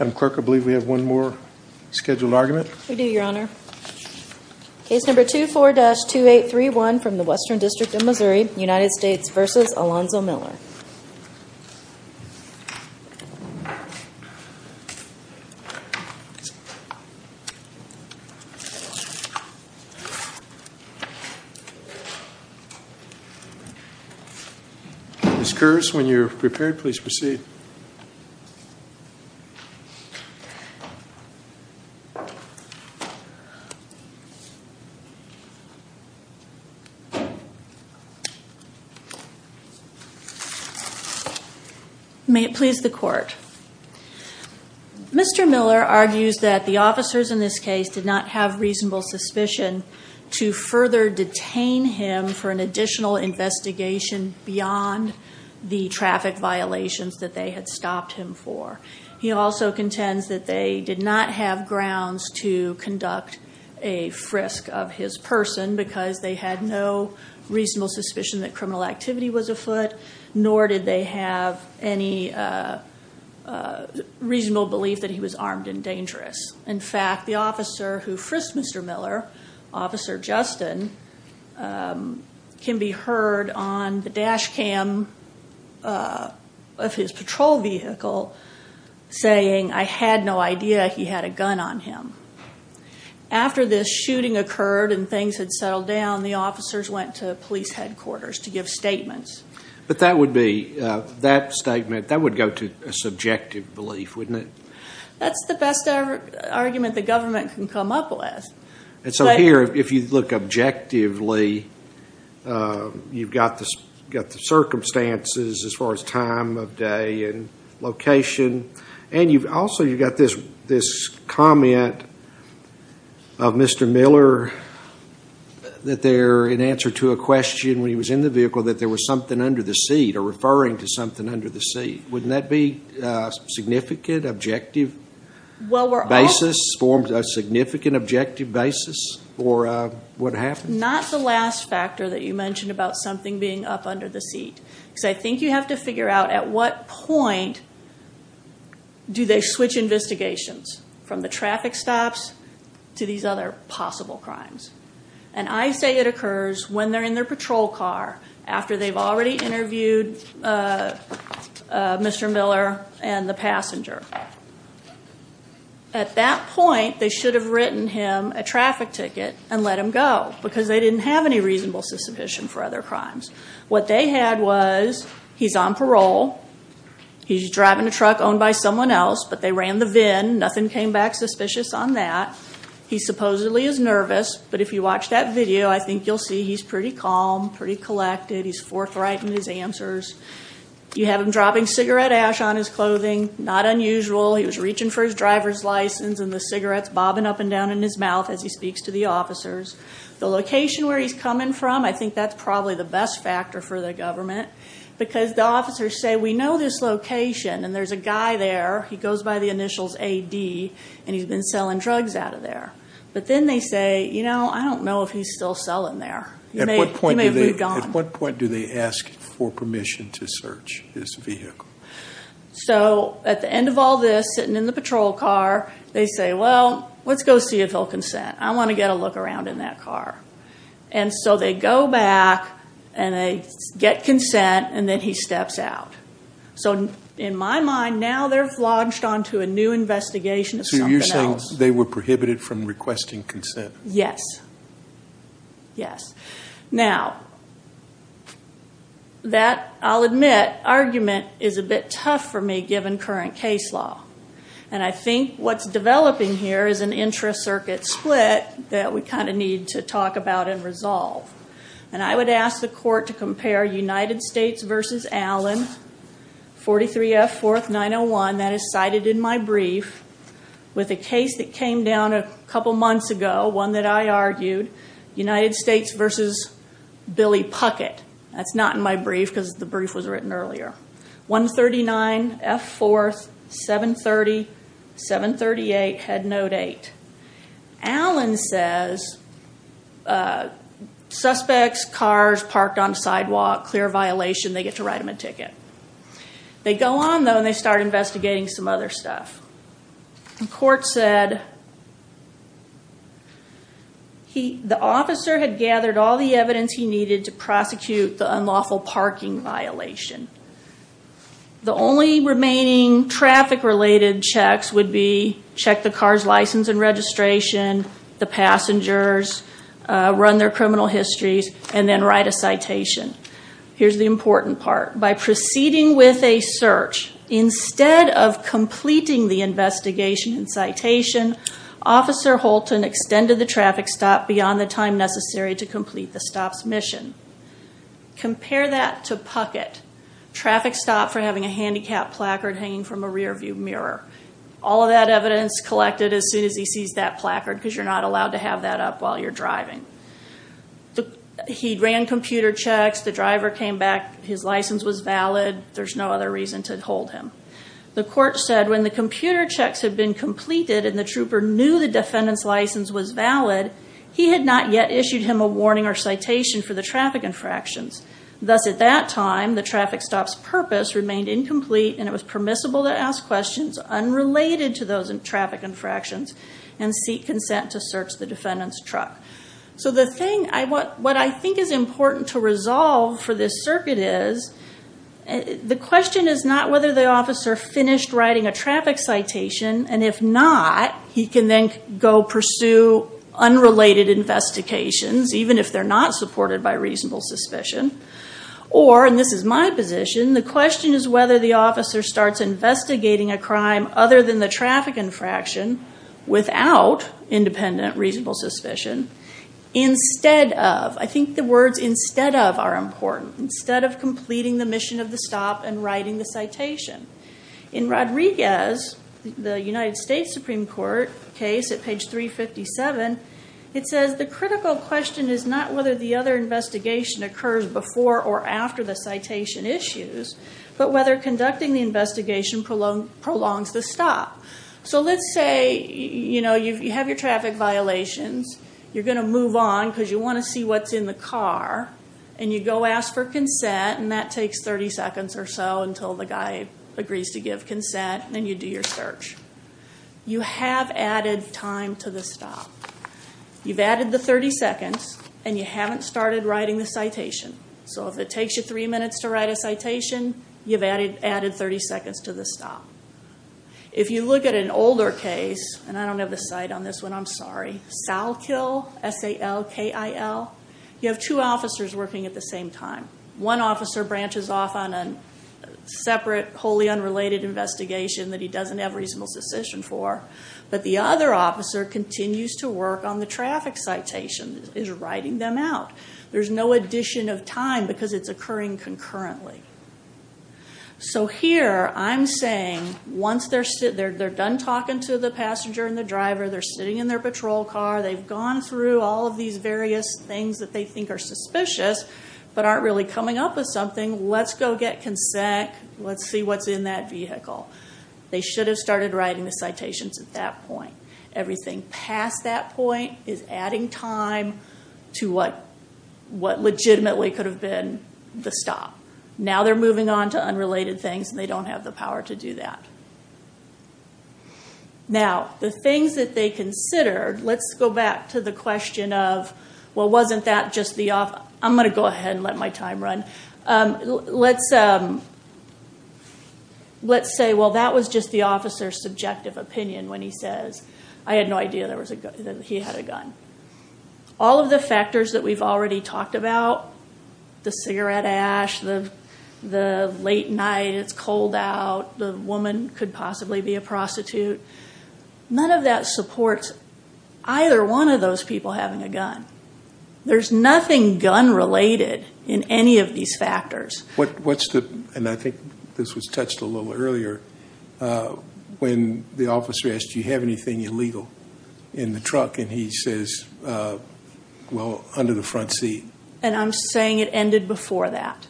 I'm clerk I believe we have one more scheduled argument we do your honor case number two four dash two eight three one from the Western District of Missouri United States versus Alonzo Miller Miss Curtis when you're prepared please proceed may it please the court mr. Miller argues that the officers in this case did not have reasonable suspicion to further detain him for an additional investigation beyond the traffic violations that they had stopped him for he also contends that they did not have grounds to conduct a frisk of his person because they had no reasonable suspicion that criminal activity was afoot nor did they have any reasonable belief that he was armed and dangerous in fact the officer who frisked mr. Miller officer Justin can be heard on the dash cam of his patrol vehicle saying I had no idea he had a gun on him after this shooting occurred and things had settled down the officers went to police headquarters to but that would be that statement that would go to a subjective belief wouldn't it that's the best argument the government can come up with and so here if you look objectively you've got this got the circumstances as far as time of day and location and you've also you got this this comment of mr. Miller that in answer to a question when he was in the vehicle that there was something under the seat or referring to something under the seat wouldn't that be significant objective basis formed a significant objective basis or what happened not the last factor that you mentioned about something being up under the seat so I think you have to figure out at what point do they switch investigations from the traffic stops to these other possible crimes and I say it occurs when they're in their patrol car after they've already interviewed mr. Miller and the passenger at that point they should have written him a traffic ticket and let him go because they didn't have any reasonable suspicion for other crimes what they had was he's on parole he's driving a truck owned by someone else but they ran the VIN nothing came back suspicious on that he supposedly is nervous but if you watch that video I think you'll see he's pretty calm pretty collected he's forthright in his answers you have him dropping cigarette ash on his clothing not unusual he was reaching for his driver's license and the cigarettes bobbing up and down in his mouth as he speaks to the officers the location where he's coming from I think that's probably the best factor for the government because the officers say we know this location and there's a guy there he goes by the initials a D and he's been selling drugs out of there but then they say you know I don't know if he's still selling there at what point do they ask for permission to search his vehicle so at the end of all this sitting in the patrol car they say well let's go see if he'll consent I want to get a look around in that car and so they go back and they get consent and then he steps out so in my mind now they're launched onto a new investigation so you're saying they were prohibited from requesting consent yes yes now that I'll admit argument is a bit tough for me given current case law and I think what's developing here is an intra circuit split that we kind of need to talk about and resolve and I would ask the court to compare United States versus Allen 43 F 4th 901 that is cited in my brief with a case that came down a couple months ago one that I argued United States versus Billy Puckett that's not my brief because the brief was written earlier 139 F 4th 730 738 had no date Allen says suspects cars parked on sidewalk clear violation they get to write him a ticket they go on though and they start investigating some other stuff the court said he the officer had gathered all the evidence he needed to prosecute the unlawful parking violation the only remaining traffic related checks would be check the car's license and registration the passengers run their criminal histories and then write a citation here's the important part by proceeding with a search instead of completing the investigation in citation officer Holton extended the traffic stop beyond the time necessary to complete the stops mission compare that to Puckett traffic stop for having a placard hanging from a rearview mirror all of that evidence collected as soon as he sees that placard because you're not allowed to have that up while you're driving he ran computer checks the driver came back his license was valid there's no other reason to hold him the court said when the computer checks have been completed in the trooper knew the defendant's license was valid he had not yet issued him a warning or citation for the traffic infractions that's at that time the traffic stops purpose remained incomplete and it was permissible to ask questions unrelated to those in traffic infractions and seek consent to search the defendant's truck so the thing I want what I think is important to resolve for this circuit is the question is not whether the officer finished writing a traffic citation and if not he can then go pursue unrelated investigations even if they're not supported by reasonable suspicion or and this is my position the question is whether the officer starts investigating a crime other than the traffic infraction without independent reasonable suspicion instead of I think the words instead of are important instead of completing the mission of the stop and writing the citation in Rodriguez the United States Supreme Court case at page 357 it says the critical question is not whether the other investigation occurs before or after the citation issues but whether conducting the investigation prolongs the stop so let's say you know you have your traffic violations you're going to move on because you want to see what's in the car and you go ask for consent and that takes 30 seconds or so until the guy agrees to give consent then you do your search you have added time to the stop you've added the 30 seconds and you haven't started writing the citation so if it takes you three minutes to write a citation you've added added 30 seconds to the stop if you look at an older case and I don't have the site on this one I'm sorry Sal kill sal KIL you have two officers working at the same time one officer branches off on a separate wholly unrelated investigation that he doesn't have reasonable suspicion for but the other officer continues to work on the traffic citation is writing them out there's no addition of time because it's occurring concurrently so here I'm saying once they're sitting there they're done talking to the passenger and the driver they're sitting in their patrol car they've gone through all of these various things that they think are suspicious but aren't really coming up with something let's go get consent let's see what's in that vehicle they should have started writing the citations at that point everything past that point is adding time to what what legitimately could have been the stop now they're moving on to unrelated things they don't have the power to do that now the things that they consider let's go back to the question of what wasn't that just the off I'm gonna go ahead and let my time run let's let's say well that was just the officer subjective opinion when he says I had no idea there was a gun all of the factors that we've already talked about the cigarette ash the the late night it's cold out the woman could possibly be a prostitute none of that supports either one of those people having a gun there's nothing gun related in any of these factors what what's the and I think this was touched a little earlier when the officer asked you have anything illegal in the truck and he says well under the front seat and I'm saying it ended before that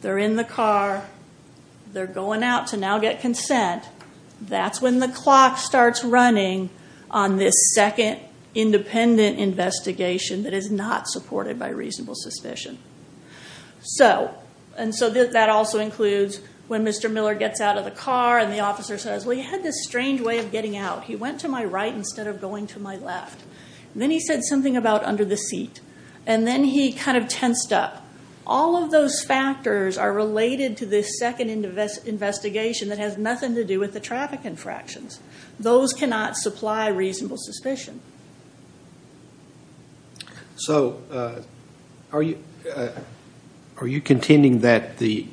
they're in the car they're going out to now get consent that's when the clock starts running on this second independent investigation that is not supported by reasonable suspicion so and so that also includes when mr. Miller gets out of the car and the officer says we had this strange way of getting out he went to my right instead of going to my left then he said something about under the seat and then he kind of tensed up all of those factors are related to this second invest investigation that has nothing to do with the traffic infractions those cannot supply reasonable suspicion so are you are you contending that the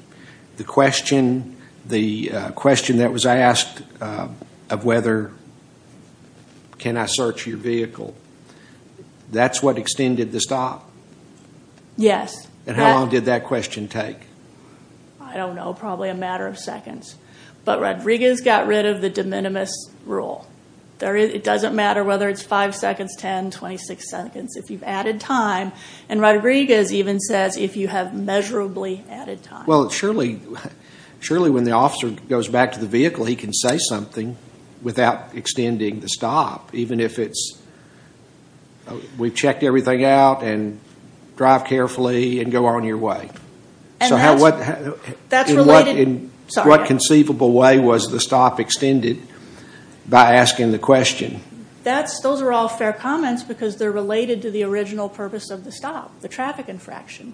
the question the question that was asked of whether can I search your vehicle that's what extended the stop yes and how long did that question take I don't know probably a matter of seconds but Rodriguez got rid of the de minimis rule there it doesn't matter whether it's five seconds ten twenty six seconds if you've added time and Rodriguez even says if you have measurably added time well it's surely surely when the officer goes back to the he can say something without extending the stop even if it's we've checked everything out and drive carefully and go on your way so how what that's what conceivable way was the stop extended by asking the question that's those are all fair comments because they're related to the original purpose of the stop the traffic infraction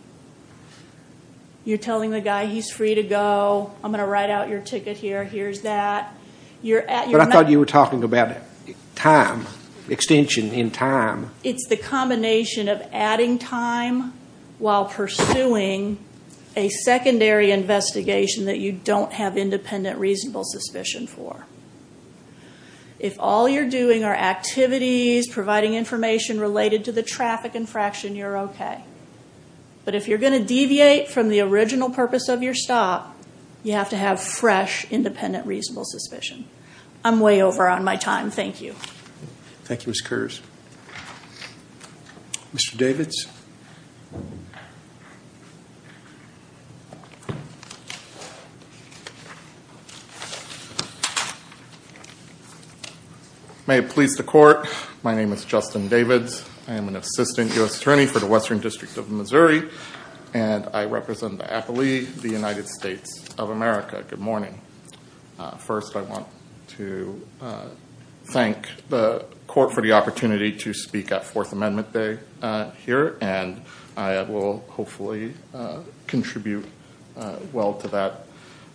you're telling the guy he's free to go I'm gonna write out your ticket here here's that you're at your thought you were talking about time extension in time it's the combination of adding time while pursuing a secondary investigation that you don't have independent reasonable suspicion for if all you're doing our activities providing information related to the traffic infraction you're okay but if you're going to deviate from the purpose of your stop you have to have fresh independent reasonable suspicion I'm way over on my time thank you thank you miss curse mr. Davids may it please the court my name is Justin Davids I am an assistant US district of Missouri and I represent the United States of America good morning first I want to thank the court for the opportunity to speak at Fourth Amendment Day here and I will hopefully contribute well to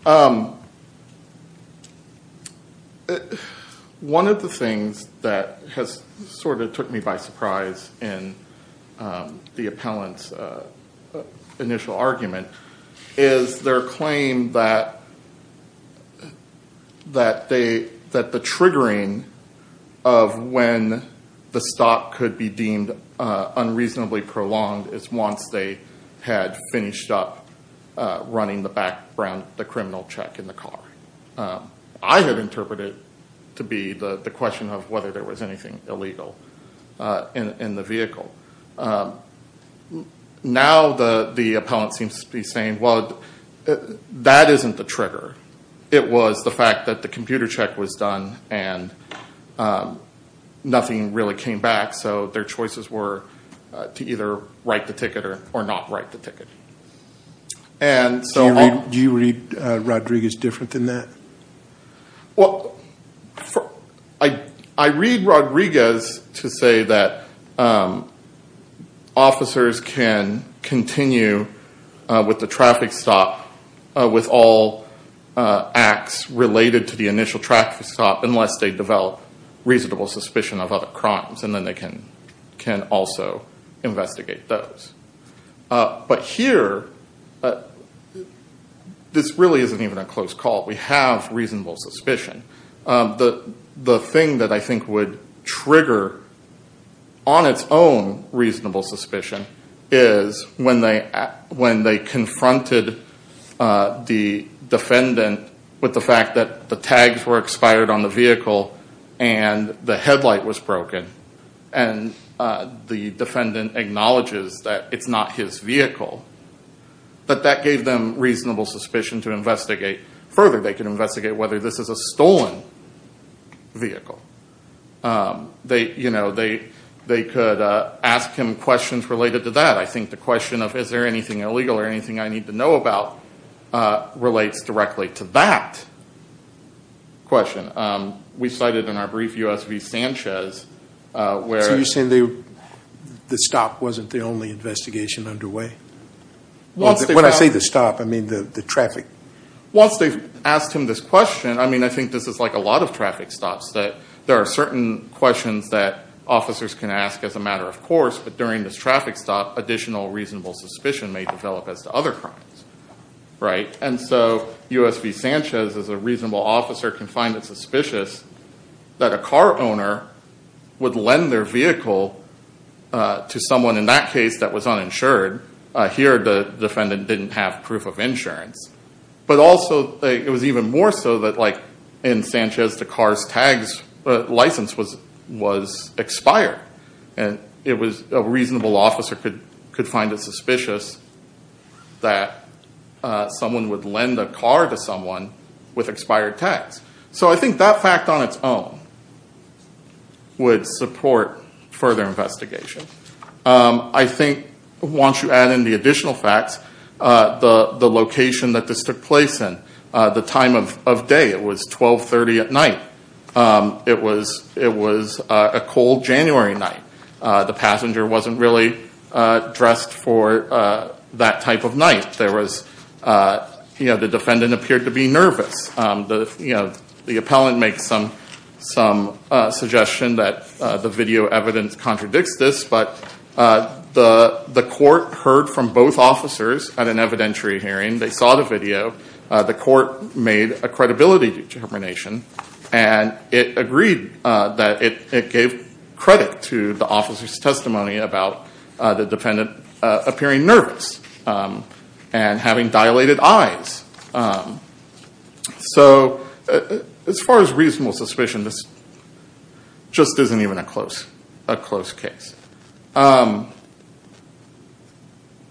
that one of the things that has sort of took me by surprise in the appellant's initial argument is their claim that that they that the triggering of when the stop could be deemed unreasonably prolonged is once they had finished up running the background the criminal check in the car I have interpreted to be the the whether there was anything illegal in the vehicle now the the appellant seems to be saying well that isn't the trigger it was the fact that the computer check was done and nothing really came back so their choices were to either write the ticket or or not write the ticket and so do you read Rodriguez different than well I I read Rodriguez to say that officers can continue with the traffic stop with all acts related to the initial traffic stop unless they develop reasonable suspicion of other crimes and then they can can also investigate those but here this really isn't even a close call we have reasonable suspicion the the thing that I think would trigger on its own reasonable suspicion is when they when they confronted the defendant with the fact that the tags were expired on the vehicle and the headlight was broken and the defendant acknowledges that it's not his vehicle but that gave them reasonable suspicion to investigate further they can investigate whether this is a stolen vehicle they you know they they could ask him questions related to that I think the question of is there anything illegal or anything I need to know about relates directly to that question we cited in our brief USV Sanchez where you send you the stop wasn't the only investigation underway once when I say the stop I mean the traffic once they asked him this question I mean I think this is like a lot of traffic stops that there are certain questions that officers can ask as a matter of course but during this traffic stop additional reasonable suspicion may develop as to other crimes right and so USV Sanchez is a reasonable officer can find it suspicious that a car owner would lend their vehicle to someone in that case that was uninsured here the defendant didn't have proof of insurance but also it was even more so that like in Sanchez the car's tags license was was expired and it was a reasonable officer could could find it suspicious that someone would lend a car to someone with expired tags so I think that fact on its own would support further investigation I think once you add in the additional facts the the location that this took place in the time of day it was 1230 at night it was it was a cold January night the passenger wasn't really dressed for that type of night there was you know the appellant makes some some suggestion that the video evidence contradicts this but the the court heard from both officers at an evidentiary hearing they saw the video the court made a credibility determination and it agreed that it gave credit to the officers testimony about the defendant appearing nervous and having dilated eyes so as far as reasonable suspicion this just isn't even a close a close case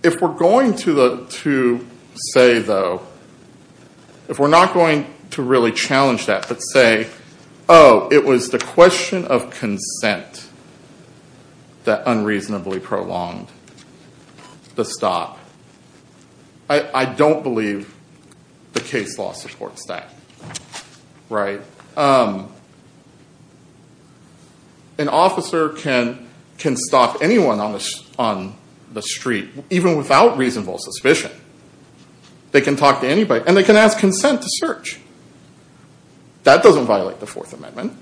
if we're going to the to say though if we're not going to really challenge that but say oh it was the question of consent that unreasonably prolonged the stop I don't believe the case law supports that right an officer can can stop anyone on this on the street even without reasonable suspicion they can talk to anybody and they can ask consent to that doesn't violate the Fourth Amendment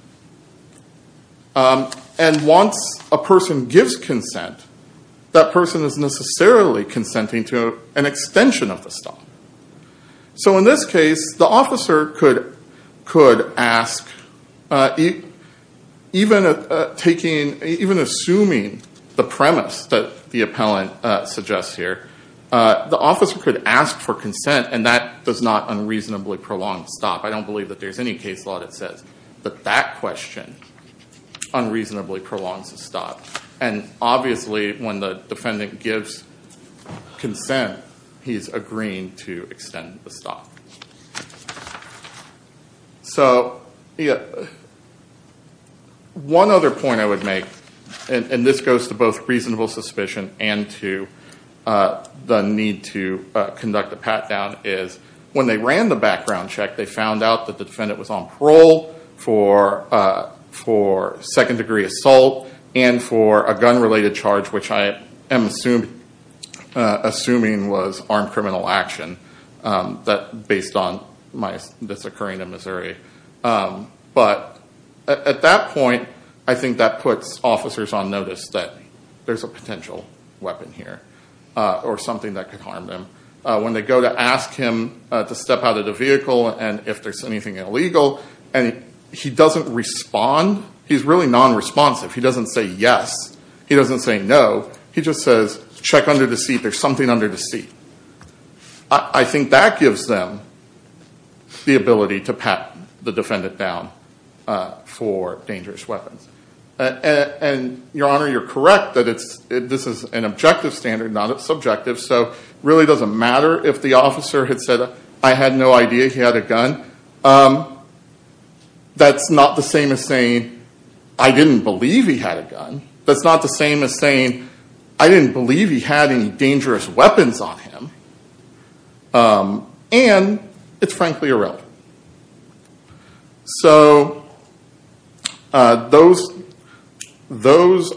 and once a person gives consent that person is necessarily consenting to an extension of the stop so in this case the officer could could ask even taking even assuming the premise that the appellant suggests here the officer could ask for consent and that does not unreasonably prolonged stop I don't believe that there's any case law that says that that question unreasonably prolonged stop and obviously when the defendant gives consent he's agreeing to extend the stop so one other point I would make and this goes to both reasonable suspicion and to the need to conduct a pat-down is when they ran the background check they found out that the defendant was on parole for for second-degree assault and for a gun related charge which I am assumed assuming was armed criminal action that based on my this occurring in Missouri but at that point I think that puts officers on notice that there's a potential weapon here or something that could harm them when they go to ask him to step out of the vehicle and if there's anything illegal and he doesn't respond he's really non-responsive he doesn't say yes he doesn't say no he just says check under the seat there's something under the seat I think that gives them the ability to pat the defendant down for dangerous weapons and your honor you're correct that it's this is an objective standard not a subjective so really doesn't matter if the officer had said I had no idea he had a gun that's not the same as saying I didn't believe he had a gun that's not the same as saying I didn't believe he had any dangerous weapons on him and it's frankly irrelevant so those those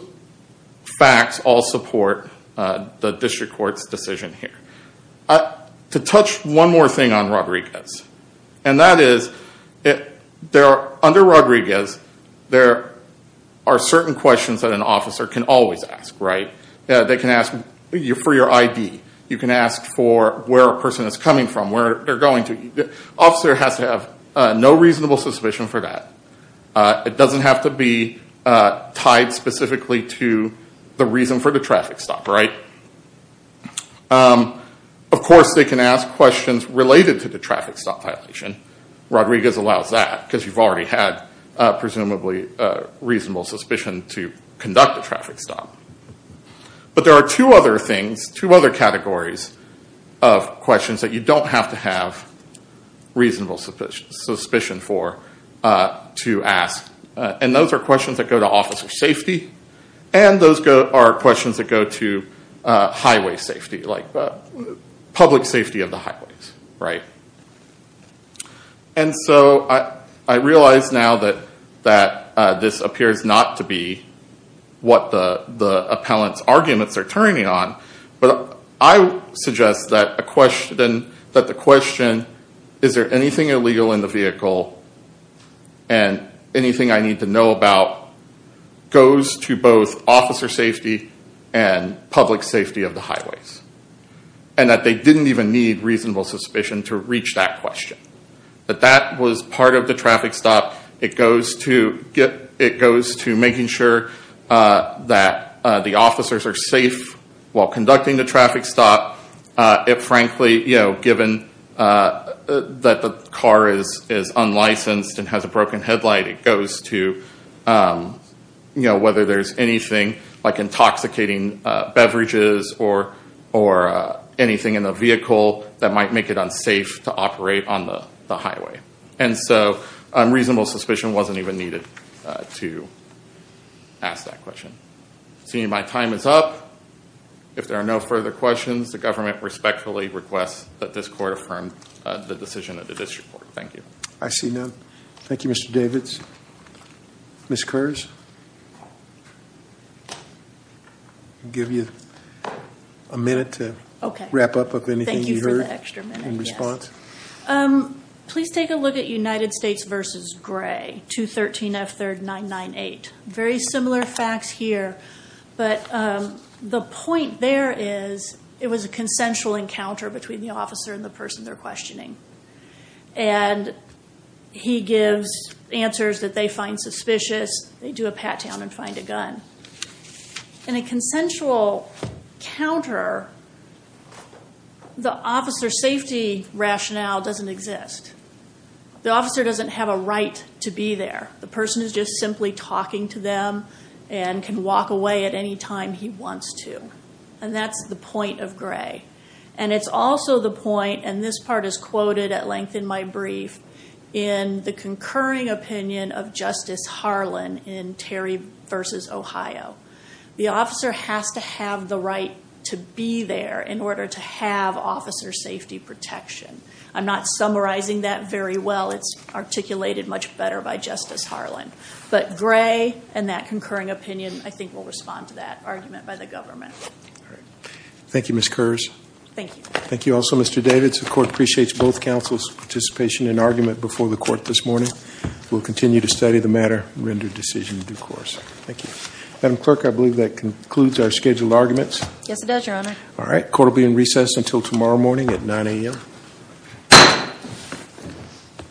facts all support the district court's decision here to touch one more thing on Rodriguez and that is it there are under Rodriguez there are certain questions that an officer can always ask right yeah they can ask you for your ID you can ask for where a person is coming from where they're going to the officer has to have no reasonable suspicion for that it doesn't have to be tied specifically to the reason for the traffic stop right of course they can ask questions related to the traffic stop violation Rodriguez allows that because you've already had presumably reasonable suspicion to conduct a traffic stop but there are two other things two other categories of questions that you don't have to have reasonable suspicion for to ask and those are questions that go to officer safety and those go are questions that go to highway safety like public safety of the highways right and so I I realize now that that this appears not to be what the the appellant's arguments are turning on but I suggest that a question that the question is there anything illegal in the vehicle and anything I need to know about goes to both officer safety and public safety of the highways and that they didn't even need reasonable suspicion to reach that question but that was part of the traffic stop it goes to get it goes to making sure that the officers are safe while conducting the traffic stop it frankly you know given that the car is is unlicensed and has a broken headlight it goes to you know whether there's anything like intoxicating beverages or or anything in the vehicle that might make it unsafe to operate on the highway and so I'm reasonable suspicion wasn't even needed to ask that question seeing my time is up if there are no further questions the government respectfully requests that this court affirm the thank you I see no thank you mr. David's miss curves give you a minute to wrap up with anything you heard in response please take a look at United States versus gray 213 F third nine nine eight very similar facts here but the point there is it was a consensual encounter between the officer and the person they're questioning and he gives answers that they find suspicious they do a pat down and find a gun in a consensual counter the officer safety rationale doesn't exist the officer doesn't have a right to be there the person is just simply talking to them and can walk away at any time he wants to and that's the point of gray and it's also the point and this part is quoted at length in my brief in the concurring opinion of Justice Harlan in Terry versus Ohio the officer has to have the right to be there in order to have officer safety protection I'm not summarizing that very well it's articulated much better by Justice Harlan but gray and that concurring opinion I think will respond to that argument by the government thank you miss curves thank you thank you also mr. David support appreciates both counsel's participation in argument before the court this morning we'll continue to study the matter render decision in due course thank you madam clerk I believe that concludes our scheduled arguments yes it does your honor all right court will be in recess until tomorrow morning at 9 a.m.